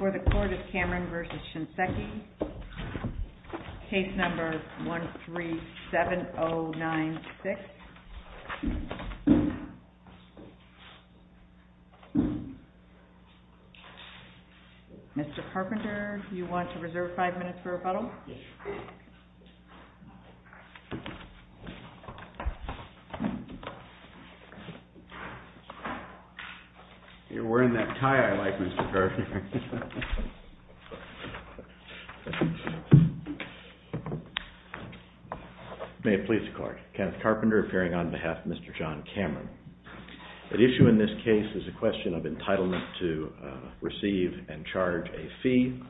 137096. Mr. Carpenter, you want to reserve five minutes for rebuttal? You're wearing that tie I like, Mr. Carpenter. May it please the court. Kenneth Carpenter, appearing on behalf of Mr. John Cameron. The issue in this case is a question of entitlement to receive and charge a fee.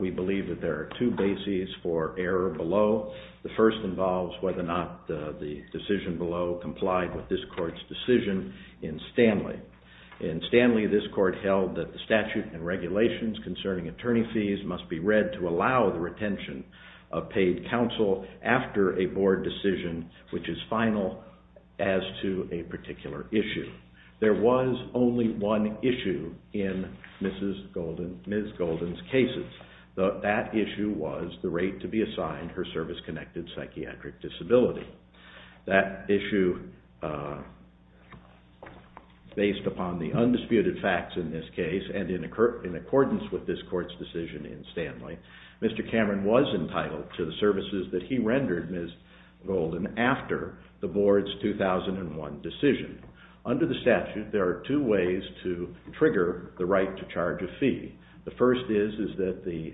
We believe that there are two bases for error below. The first involves whether or not the decision below complied with this court's decision in Stanley. In Stanley, this court held that the statute and regulations concerning attorney fees must be read to allow the retention of paid counsel after a board decision which is final as to a particular issue. There was only one issue in Ms. Golden's cases. That issue was the rate to be assigned her service-connected psychiatric disability. That issue, based upon the undisputed facts in this case and in accordance with this court's decision in Stanley, Mr. Cameron was entitled to the services that he rendered Ms. Golden after the board's 2001 decision. Under the statute, there are two ways to trigger the right to charge a fee. The first is that the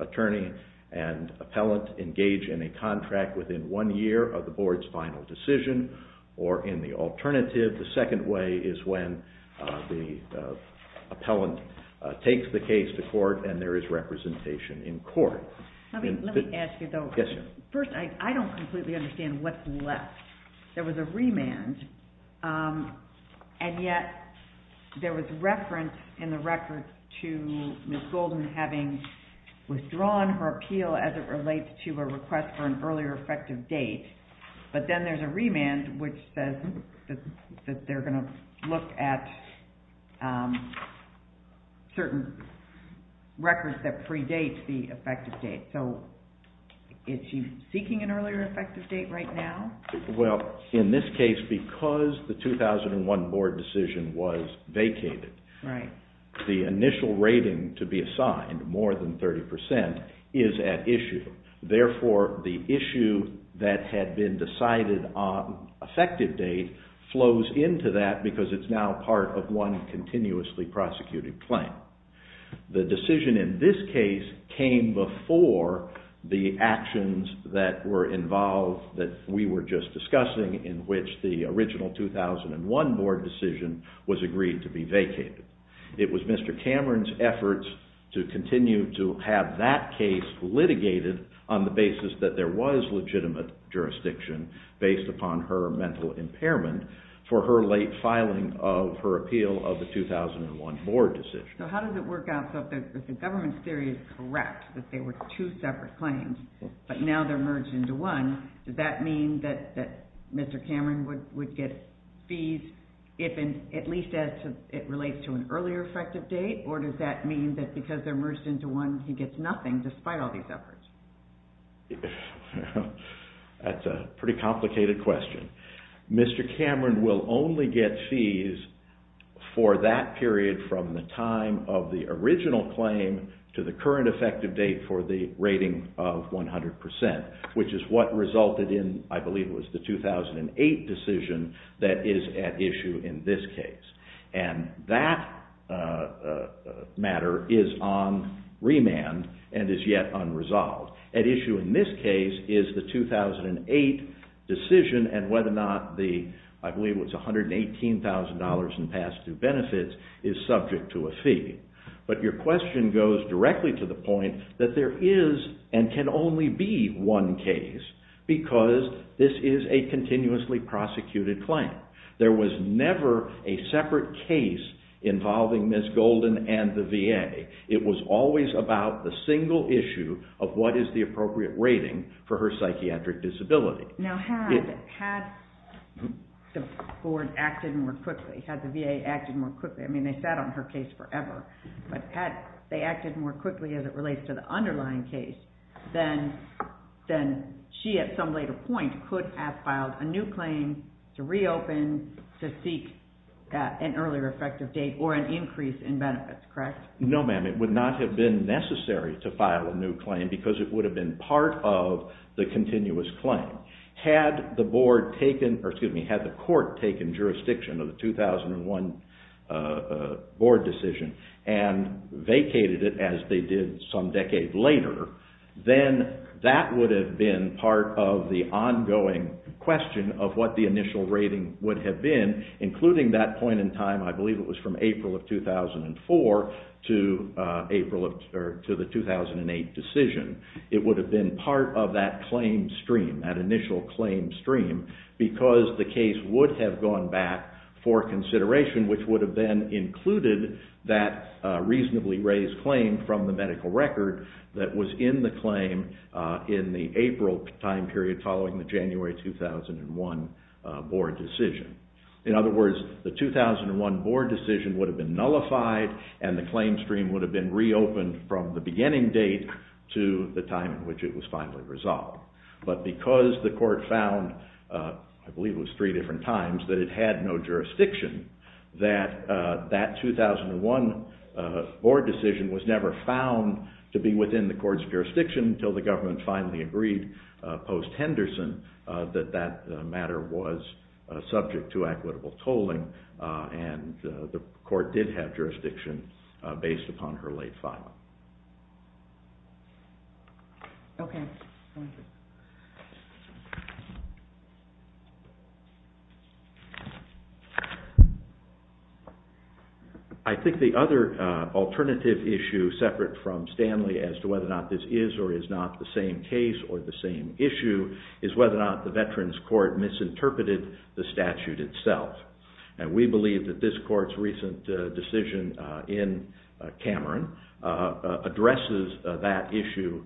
attorney and appellant engage in a contract within one year of the board's final decision or in the alternative. The second way is when the appellant takes the case to court and there is representation in court. Let me ask you, though. First, I don't completely understand what's left. There was a remand and yet there was reference in the record to Ms. Golden having withdrawn her appeal as it relates to a request for an earlier effective date, but then there's a remand which says that they're going to look at certain records that predate the effective date. So is she seeking an earlier effective date right now? Well, in this case, because the 2001 board decision was vacated, the initial rating to be assigned, more than decided on effective date flows into that because it's now part of one continuously prosecuted claim. The decision in this case came before the actions that were involved that we were just discussing in which the original 2001 board decision was agreed to be vacated. It was Mr. Cameron's efforts to continue to have that case litigated on the basis that there was legitimate jurisdiction based upon her mental impairment for her late filing of her appeal of the 2001 board decision. So how does it work out? If the government's theory is correct that they were two separate claims, but now they're merged into one, does that mean that Mr. Cameron would get fees if at least it relates to an earlier effective date, or does that mean that because they're merged into one, he gets nothing despite all these efforts? That's a pretty complicated question. Mr. Cameron will only get fees for that period from the time of the original claim to the current effective date for the rating of 100%, which is what resulted in, I believe it was the 2008 decision that is at issue in this case. And that matter is on remand and is yet unresolved. At issue in this case is the 2008 decision and whether or not the, I believe it was $118,000 in past due benefits, is subject to a fee. But your question goes directly to the point that there is and can only be one case because this is a continuously prosecuted claim. There was never a separate case involving Ms. Golden and the VA. It was always about the single issue of what is the appropriate rating for her psychiatric disability. Now had the board acted more quickly, had the VA acted more quickly, I mean they sat on her case forever, but had they acted more quickly in the case, then she at some later point could have filed a new claim to reopen to seek an earlier effective date or an increase in benefits, correct? No ma'am, it would not have been necessary to file a new claim because it would have been part of the continuous claim. Had the board taken, or excuse me, had the court taken jurisdiction of the 2001 board decision and vacated it as they did some decade later, then that would have been part of the ongoing question of what the initial rating would have been, including that point in time, I believe it was from April of 2004 to the 2008 decision. It would have been part of that claim stream, that initial claim stream, because the case would have gone back for consideration, which would have then included that reasonably raised claim from the medical record that was in the claim in the April time period following the January 2001 board decision would have been nullified and the claim stream would have been reopened from the beginning date to the time in which it was finally resolved. But because the court found, I believe it was three different times, that it had no jurisdiction, that that 2001 board decision was never found to be within the jurisdiction that the court did have jurisdiction based upon her late filing. Okay. I think the other alternative issue separate from Stanley as to whether or not this is or is not the same case or the same issue is whether or not the Veterans Court misinterpreted the statute itself. And we believe that this court's recent decision in Cameron addresses that issue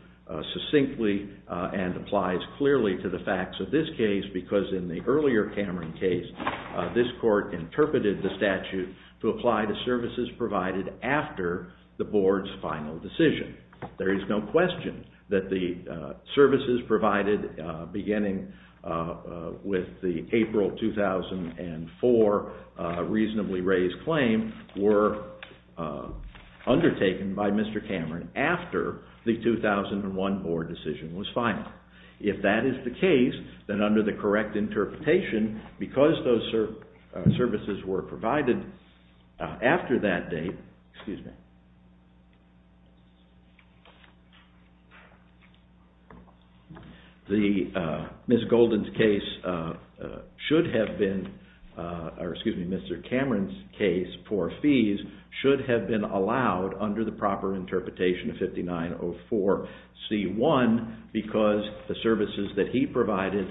succinctly and applies clearly to the facts of this case because in the earlier Cameron case, this court interpreted the statute to apply to services provided after the board's final decision. There is no question that the services provided beginning with the April 2004 reasonably raised claim were undertaken by Mr. Cameron after the 2001 board decision was The Ms. Golden's case should have been, or excuse me, Mr. Cameron's case for fees should have been allowed under the proper interpretation of 5904C1 because the services that he provided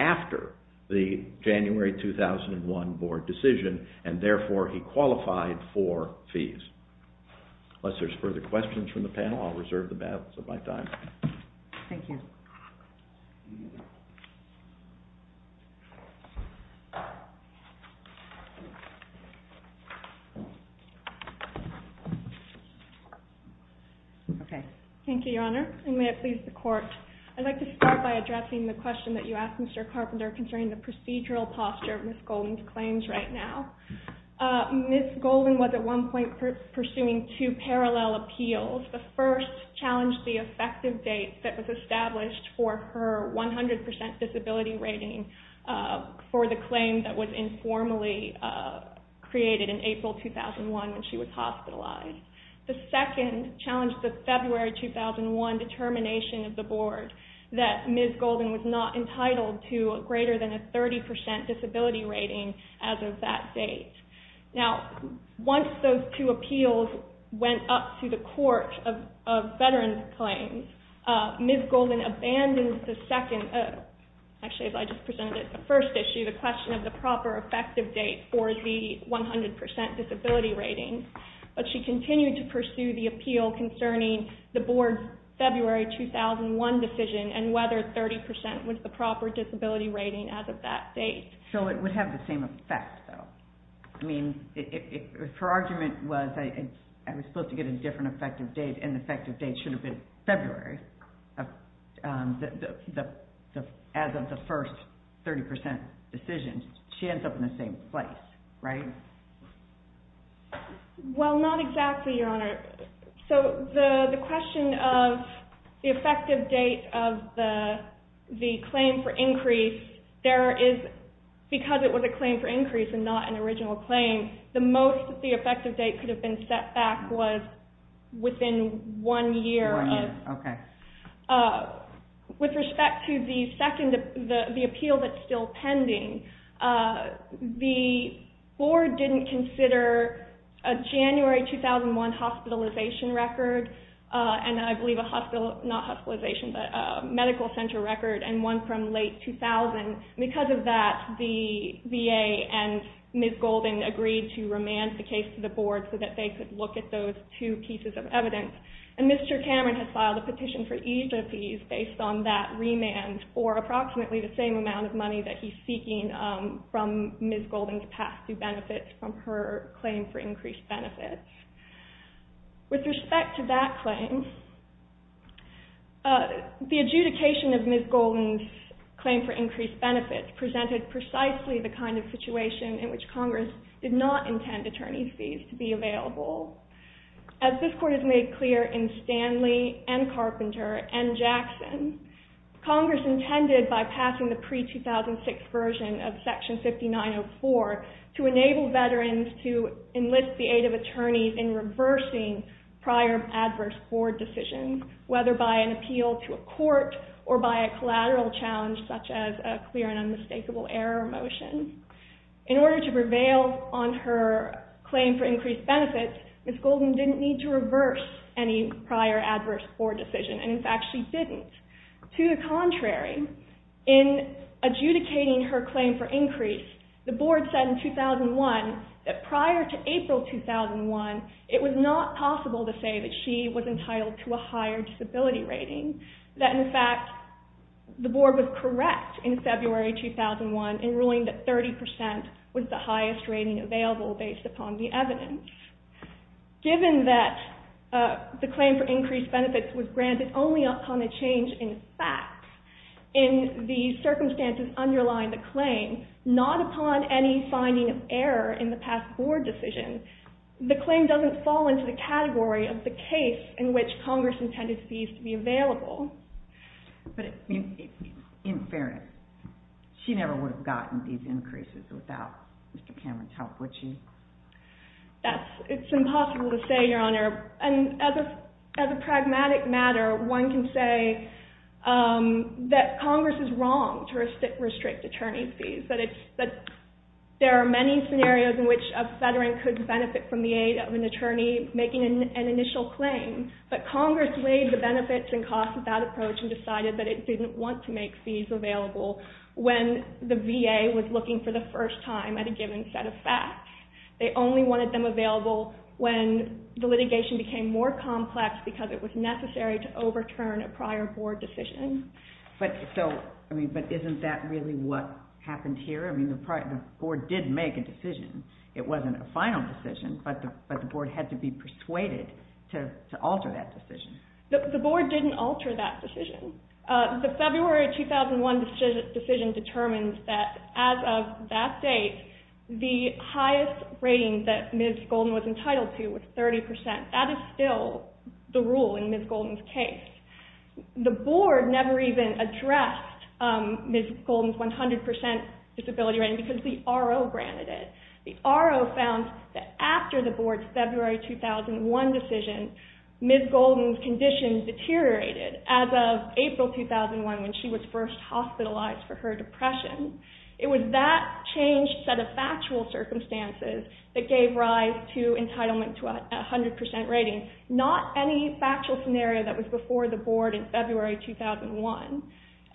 after the January 2001 board decision and therefore he qualified for fees. Unless there's further questions from the panel, I'll reserve the balance of my time. Thank you. Okay. Thank you, Your Honor. And may it please the court. I'd like to start by addressing the question that you asked Mr. Carpenter concerning the procedural posture of Ms. Golden's claims right now. Ms. Golden was at one point pursuing two parallel appeals. The first challenged the effective date that was established for her 100% disability rating for the claim that was informally created in April 2001 when she was hospitalized. The second challenged the February 2001 determination of the board that Ms. Golden was not entitled to greater than a 30% disability rating as of that date. Now, once those two appeals went up to the court of veterans' claims, Ms. Golden abandoned the second, actually I just presented it, the first issue, the question of the proper effective date for the 100% disability rating. But she continued to pursue the appeal concerning the board's February 2001 decision and whether 30% was the proper disability rating as of that date. So it would have the same effect, though. I mean, if her argument was I was supposed to get a different effective date and the effective date should have been February as of the first 30% decision, she ends up in the same place, right? Well, not exactly, Your Honor. So the question of the effective date of the claim for increase, there is, because it was a claim for increase and not an original claim, the most that the effective date could have been set back was within one year. With respect to the appeal that's still pending, the board didn't consider a January 2001 hospitalization record, and I believe a medical center record, and one from late 2000. Because of that, the VA and Ms. Golden agreed to remand the case to the board so that they could look at those two pieces of evidence, and Mr. Cameron has filed a petition for easement fees based on that remand for approximately the same amount of money that he's seeking from Ms. Golden's past due benefits from her claim for increased benefits. With respect to that claim, the adjudication of Ms. Golden's claim for increased benefits presented precisely the kind of situation in which Congress did not intend attorney fees to be available. As this court has made clear in Stanley and Carpenter and Jackson, Congress intended by passing the pre-2006 version of Section 5904 to enable veterans to enlist the aid of attorneys in reversing prior adverse board decisions, whether by an appeal to a court or by a collateral challenge such as a clear and unmistakable error motion. In order to prevail on her claim for increased benefits, Ms. Golden didn't need to reverse any prior adverse board decision, and in fact she didn't. To the contrary, in adjudicating her claim for increased, the board said in 2001 that prior to April 2001 it was not possible to say that she was entitled to a higher disability rating, that in fact the board was correct in February 2001 in ruling that 30% was the highest rating available based upon the evidence. Given that the claim for increased benefits was granted only upon a change in facts in the circumstances underlying the claim, not upon any finding of error in the past board decision, the claim doesn't fall into the category of the case in which Congress intended fees to be available. In fairness, she never would have gotten these increases without Mr. Cameron's help, would she? It's impossible to say, Your Honor. As a pragmatic matter, one can say that Congress is wrong to restrict attorney fees. There are many scenarios in which a veteran could benefit from the aid of an attorney making an initial claim, but Congress weighed the benefits and costs of that approach and decided that it didn't want to make fees available when the VA was looking for the first time at a given set of facts. They only wanted them available when the litigation became more complex because it was necessary to overturn a prior board decision. But isn't that really what happened here? The board did make a decision. It wasn't a final decision, but the board had to be persuaded to alter that decision. The board didn't alter that decision. The February 2001 decision determined that as of that date, the highest rating that Ms. Golden was entitled to was 30%. That is still the rule in Ms. Golden's case. The board never even addressed Ms. Golden's 100% disability rating because the R.O. granted it. The R.O. found that after the board's February 2001 decision, Ms. Golden's condition deteriorated as of April 2001 when she was first hospitalized for her depression. It was that changed set of factual circumstances that gave rise to entitlement to a 100% rating, not any factual scenario that was before the board in February 2001.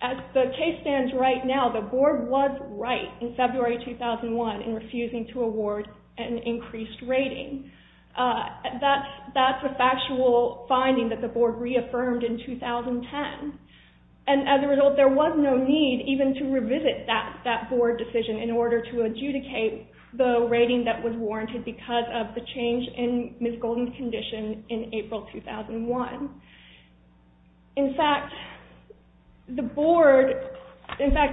As the case stands right now, the board was right in February 2001 in refusing to award an increased rating. That's a factual finding that the board reaffirmed in 2010. As a result, there was no need even to revisit that board decision in order to adjudicate the rating that was warranted because of the change in Ms. Golden's condition in April 2001. In fact, the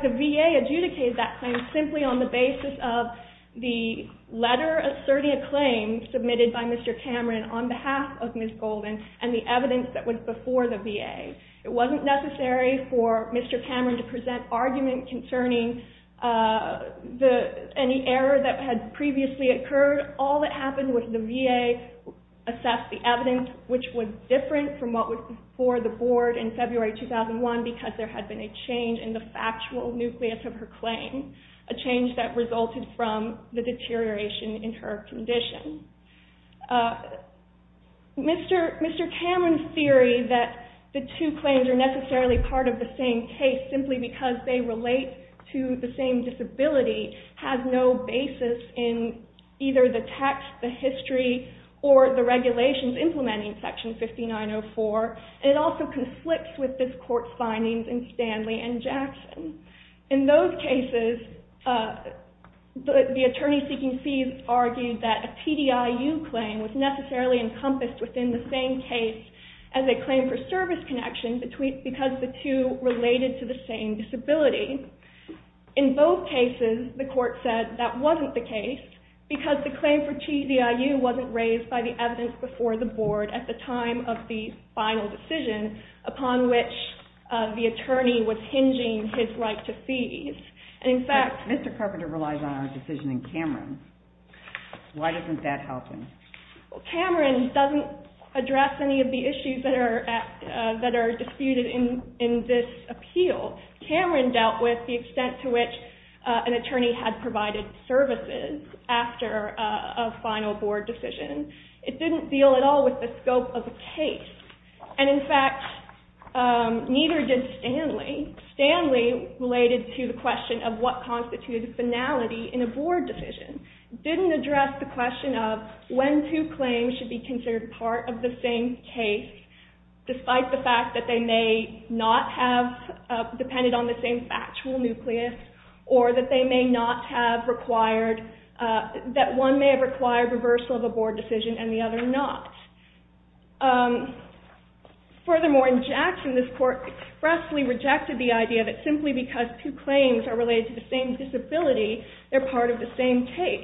VA adjudicated that claim simply on the basis of the letter asserting a claim submitted by Mr. Cameron on behalf of Ms. Golden and the evidence that was before the VA. It was not necessary for Mr. Cameron to present argument concerning any error that had previously occurred. All that happened was the VA assessed the evidence, which was different from what was before the board in February 2001 because there had been a change in the factual nucleus of her claim, a change that resulted from the deterioration in her condition. Mr. Cameron's theory that the two claims are necessarily part of the same case simply because they relate to the same disability has no basis in either the text, the history, or the regulations implementing Section 5904. It also conflicts with this court's findings in Stanley and Jackson. In those cases, the attorney seeking fees argued that a TDIU claim was necessarily encompassed within the same case as a claim for service connection because the two related to the same disability. In both cases, the court said that wasn't the case because the claim for TDIU wasn't raised by the evidence before the board at the time of the final decision upon which the attorney was hinging his right to fees. In fact… But Mr. Carpenter relies on our decision in Cameron. Why doesn't that help him? Cameron doesn't address any of the issues that are disputed in this appeal. Cameron dealt with the extent to which an attorney had provided services after a final board decision. It didn't deal at all with the scope of the case. And in fact, neither did Stanley. Stanley, related to the question of what constitutes finality in a board decision, didn't address the question of when two claims should be considered part of the same case despite the fact that they may not have depended on the same factual nucleus or that one may have required reversal of a board decision and the other not. Furthermore, in Jackson, this court expressly rejected the idea that simply because two claims are related to the same disability, they're part of the same case.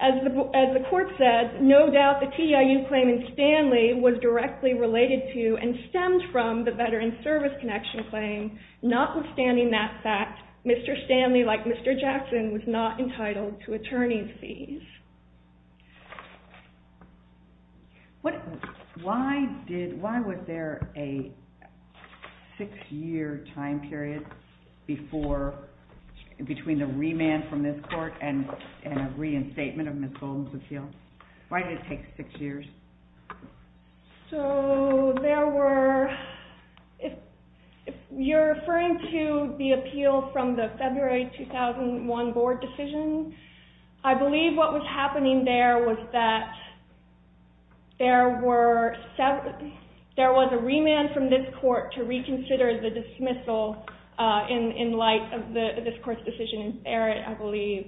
As the court said, no doubt the TDIU claim in Stanley was directly related to and stemmed from the veteran service connection claim. Notwithstanding that fact, Mr. Stanley, like Mr. Jackson, was not entitled to attorney's fees. Why was there a six-year time period between the remand from this court and a reinstatement of Ms. Golden's appeal? Why did it take six years? If you're referring to the appeal from the February 2001 board decision, I believe what was happening there was that there was a remand from this court to reconsider the dismissal in light of this court's decision in Barrett, I believe.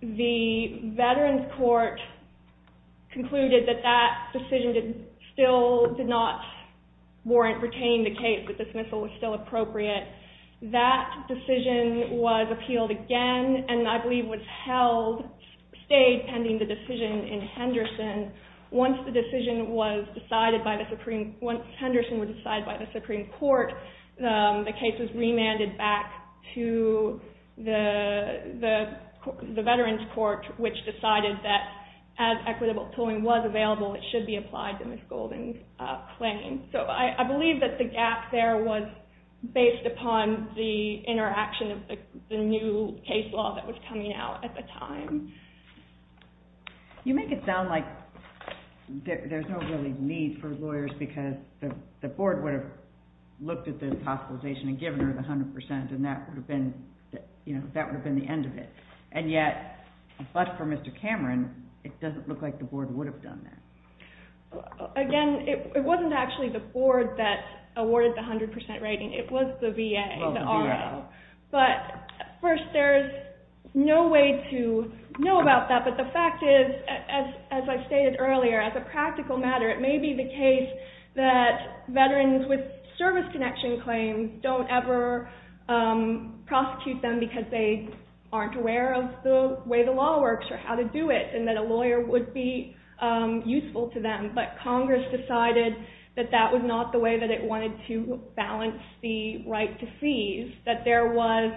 The veterans court concluded that that decision still did not warrant retaining the case, that dismissal was still appropriate. That decision was appealed again and I believe was held, stayed pending the decision in Henderson. Once the decision was decided by the Supreme Court, the case was remanded back to the veterans court, which decided that as equitable tolling was available, it should be applied to Ms. Golden's claim. I believe that the gap there was based upon the interaction of the new case law that was coming out at the time. You make it sound like there's no real need for lawyers because the board would have looked at the hospitalization and given her the 100% and that would have been the end of it. And yet, but for Mr. Cameron, it doesn't look like the board would have done that. Again, it wasn't actually the board that awarded the 100% rating, it was the VA, the RA. But first, there's no way to know about that but the fact is, as I stated earlier, as a practical matter, it may be the case that veterans with service connection claims don't ever prosecute them because they aren't aware of the way the law works or how to do it. And that a lawyer would be useful to them. But Congress decided that that was not the way that it wanted to balance the right to seize. That there was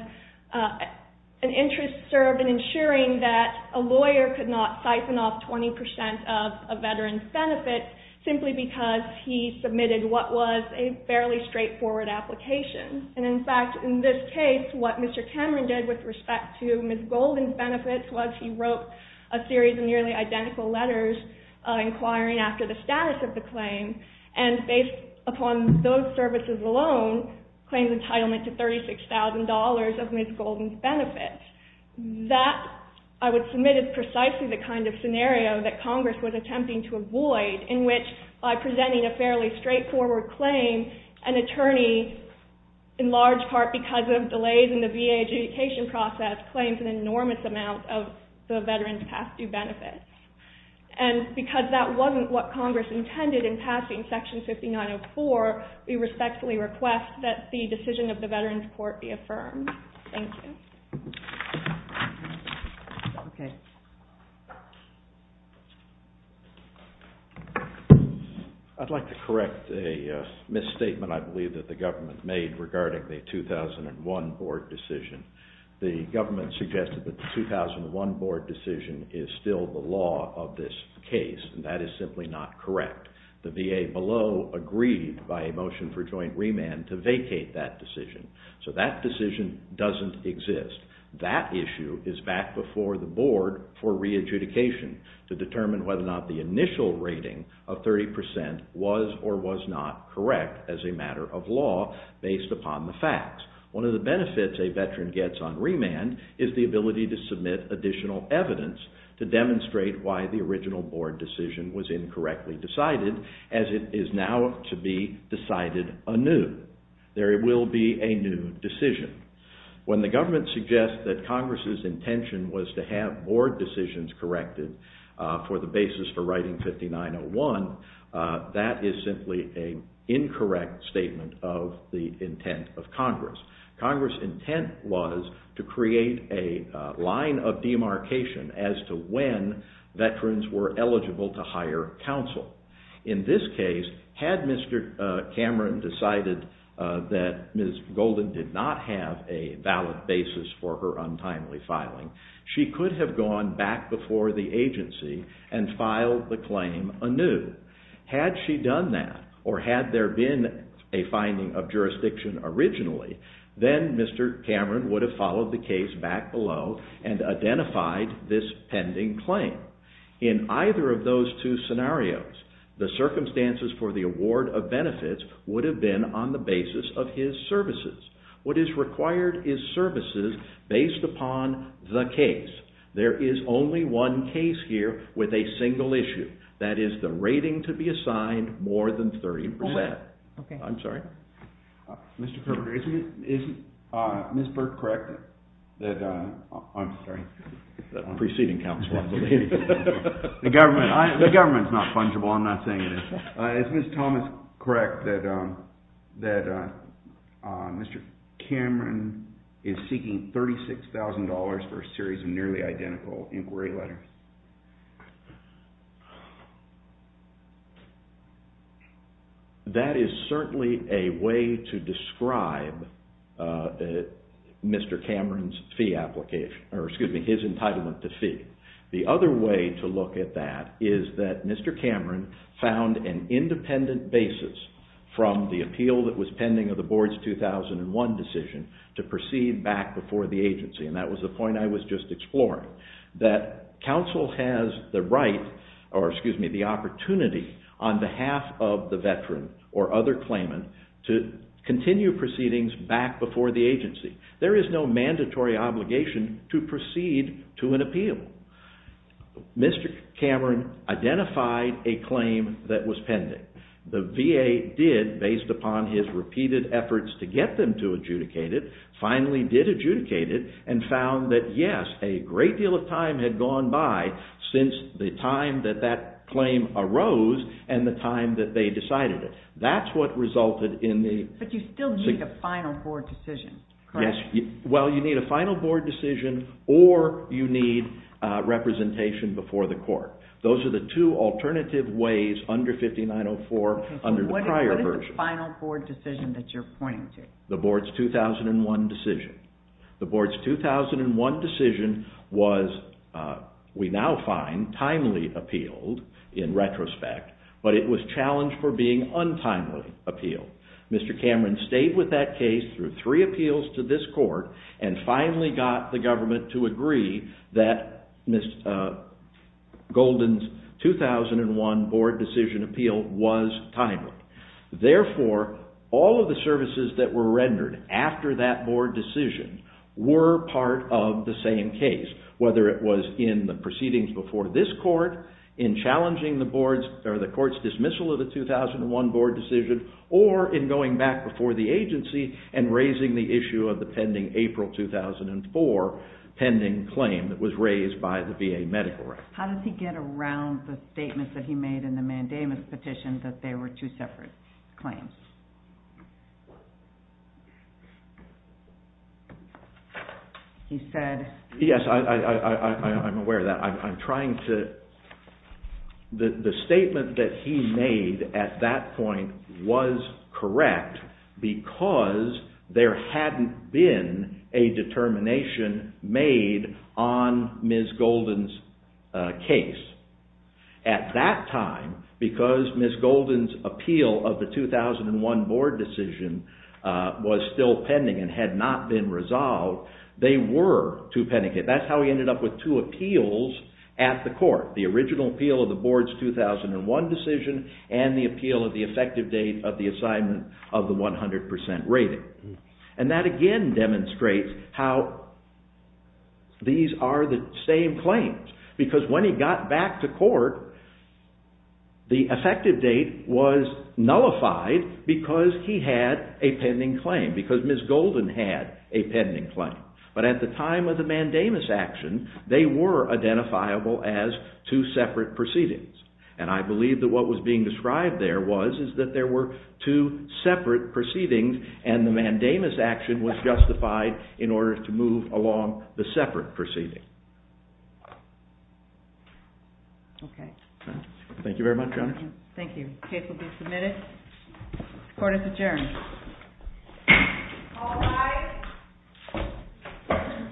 an interest served in ensuring that a lawyer could not siphon off 20% of a veteran's benefits simply because he submitted what was a fairly straightforward application. And in fact, in this case, what Mr. Cameron did with respect to Ms. Golden's benefits was he wrote a series of nearly identical letters inquiring after the status of the claim. And based upon those services alone, claims entitlement to $36,000 of Ms. Golden's benefits. That, I would submit, is precisely the kind of scenario that Congress was attempting to avoid in which by presenting a fairly straightforward claim, an attorney, in large part because of delays in the VA adjudication process, claims an enormous amount of the veteran's past due benefits. And because that wasn't what Congress intended in passing Section 5904, we respectfully request that the decision of the Veterans Court be affirmed. Thank you. I'd like to correct a misstatement I believe that the government made regarding the 2001 board decision. The government suggested that the 2001 board decision is still the law of this case. And that is simply not correct. The VA below agreed by a motion for joint remand to vacate that decision. So that decision doesn't exist. That issue is back before the board for re-adjudication to determine whether or not the initial rating of 30% was or was not correct as a matter of law based upon the facts. One of the benefits a veteran gets on remand is the ability to submit additional evidence to demonstrate why the original board decision was incorrectly decided as it is now to be decided anew. There will be a new decision. When the government suggests that Congress' intention was to have board decisions corrected for the basis for writing 5901, that is simply an incorrect statement of the intent of Congress. Congress' intent was to create a line of demarcation as to when veterans were eligible to hire counsel. In this case, had Mr. Cameron decided that Ms. Golden did not have a valid basis for her untimely filing, she could have gone back before the agency and filed the claim anew. Had she done that or had there been a finding of jurisdiction originally, then Mr. Cameron would have followed the case back below and identified this pending claim. In either of those two scenarios, the circumstances for the award of benefits would have been on the basis of his services. What is required is services based upon the case. There is only one case here with a single issue, that is the rating to be assigned more than 30%. Okay, I'm sorry. Mr. Kermit, is Ms. Burke correct? I'm sorry. Preceding counsel. The government is not fungible, I'm not saying it is. Is Ms. Thomas correct that Mr. Cameron is seeking $36,000 for a series of nearly identical inquiry letters? That is certainly a way to describe Mr. Cameron's fee application, or excuse me, his entitlement to fee. The other way to look at that is that Mr. Cameron found an independent basis from the appeal that was pending of the board's 2001 decision to proceed back before the agency. That was the point I was just exploring, that counsel has the right, or excuse me, the opportunity on behalf of the veteran or other claimant to continue proceedings back before the agency. There is no mandatory obligation to proceed to an appeal. Mr. Cameron identified a claim that was pending. The VA did, based upon his repeated efforts to get them to adjudicate it, finally did adjudicate it and found that yes, a great deal of time had gone by since the time that that claim arose and the time that they decided it. That's what resulted in the... But you still need a final board decision, correct? Yes, well you need a final board decision or you need representation before the court. Those are the two alternative ways under 5904 under the prior version. Okay, so what is the final board decision that you're pointing to? The board's 2001 decision. The board's 2001 decision was, we now find, timely appealed in retrospect, but it was challenged for being untimely appealed. Mr. Cameron stayed with that case through three appeals to this court and finally got the government to agree that Golden's 2001 board decision appeal was timely. Therefore, all of the services that were rendered after that board decision were part of the same case, whether it was in the proceedings before this court, in challenging the court's dismissal of the 2001 board decision, or in going back before the agency and raising the issue of the pending April 2004 pending claim that was raised by the VA medical record. How did he get around the statement that he made in the mandamus petition that they were two separate claims? Yes, I'm aware of that. The statement that he made at that point was correct because there hadn't been a determination made on Ms. Golden's case. At that time, because Ms. Golden's appeal of the 2001 board decision was still pending and had not been resolved, they were two-pending. That's how he ended up with two appeals at the court, the original appeal of the board's 2001 decision and the appeal of the effective date of the assignment of the 100% rating. That again demonstrates how these are the same claims because when he got back to court, the effective date was nullified because he had a pending claim, because Ms. Golden had a pending claim. But at the time of the mandamus action, they were identifiable as two separate proceedings. I believe that what was being described there was that there were two separate proceedings and the mandamus action was justified in order to move along the separate proceedings. Thank you very much, Your Honor. Thank you. The case will be submitted. Court is adjourned. All rise. The case is submitted.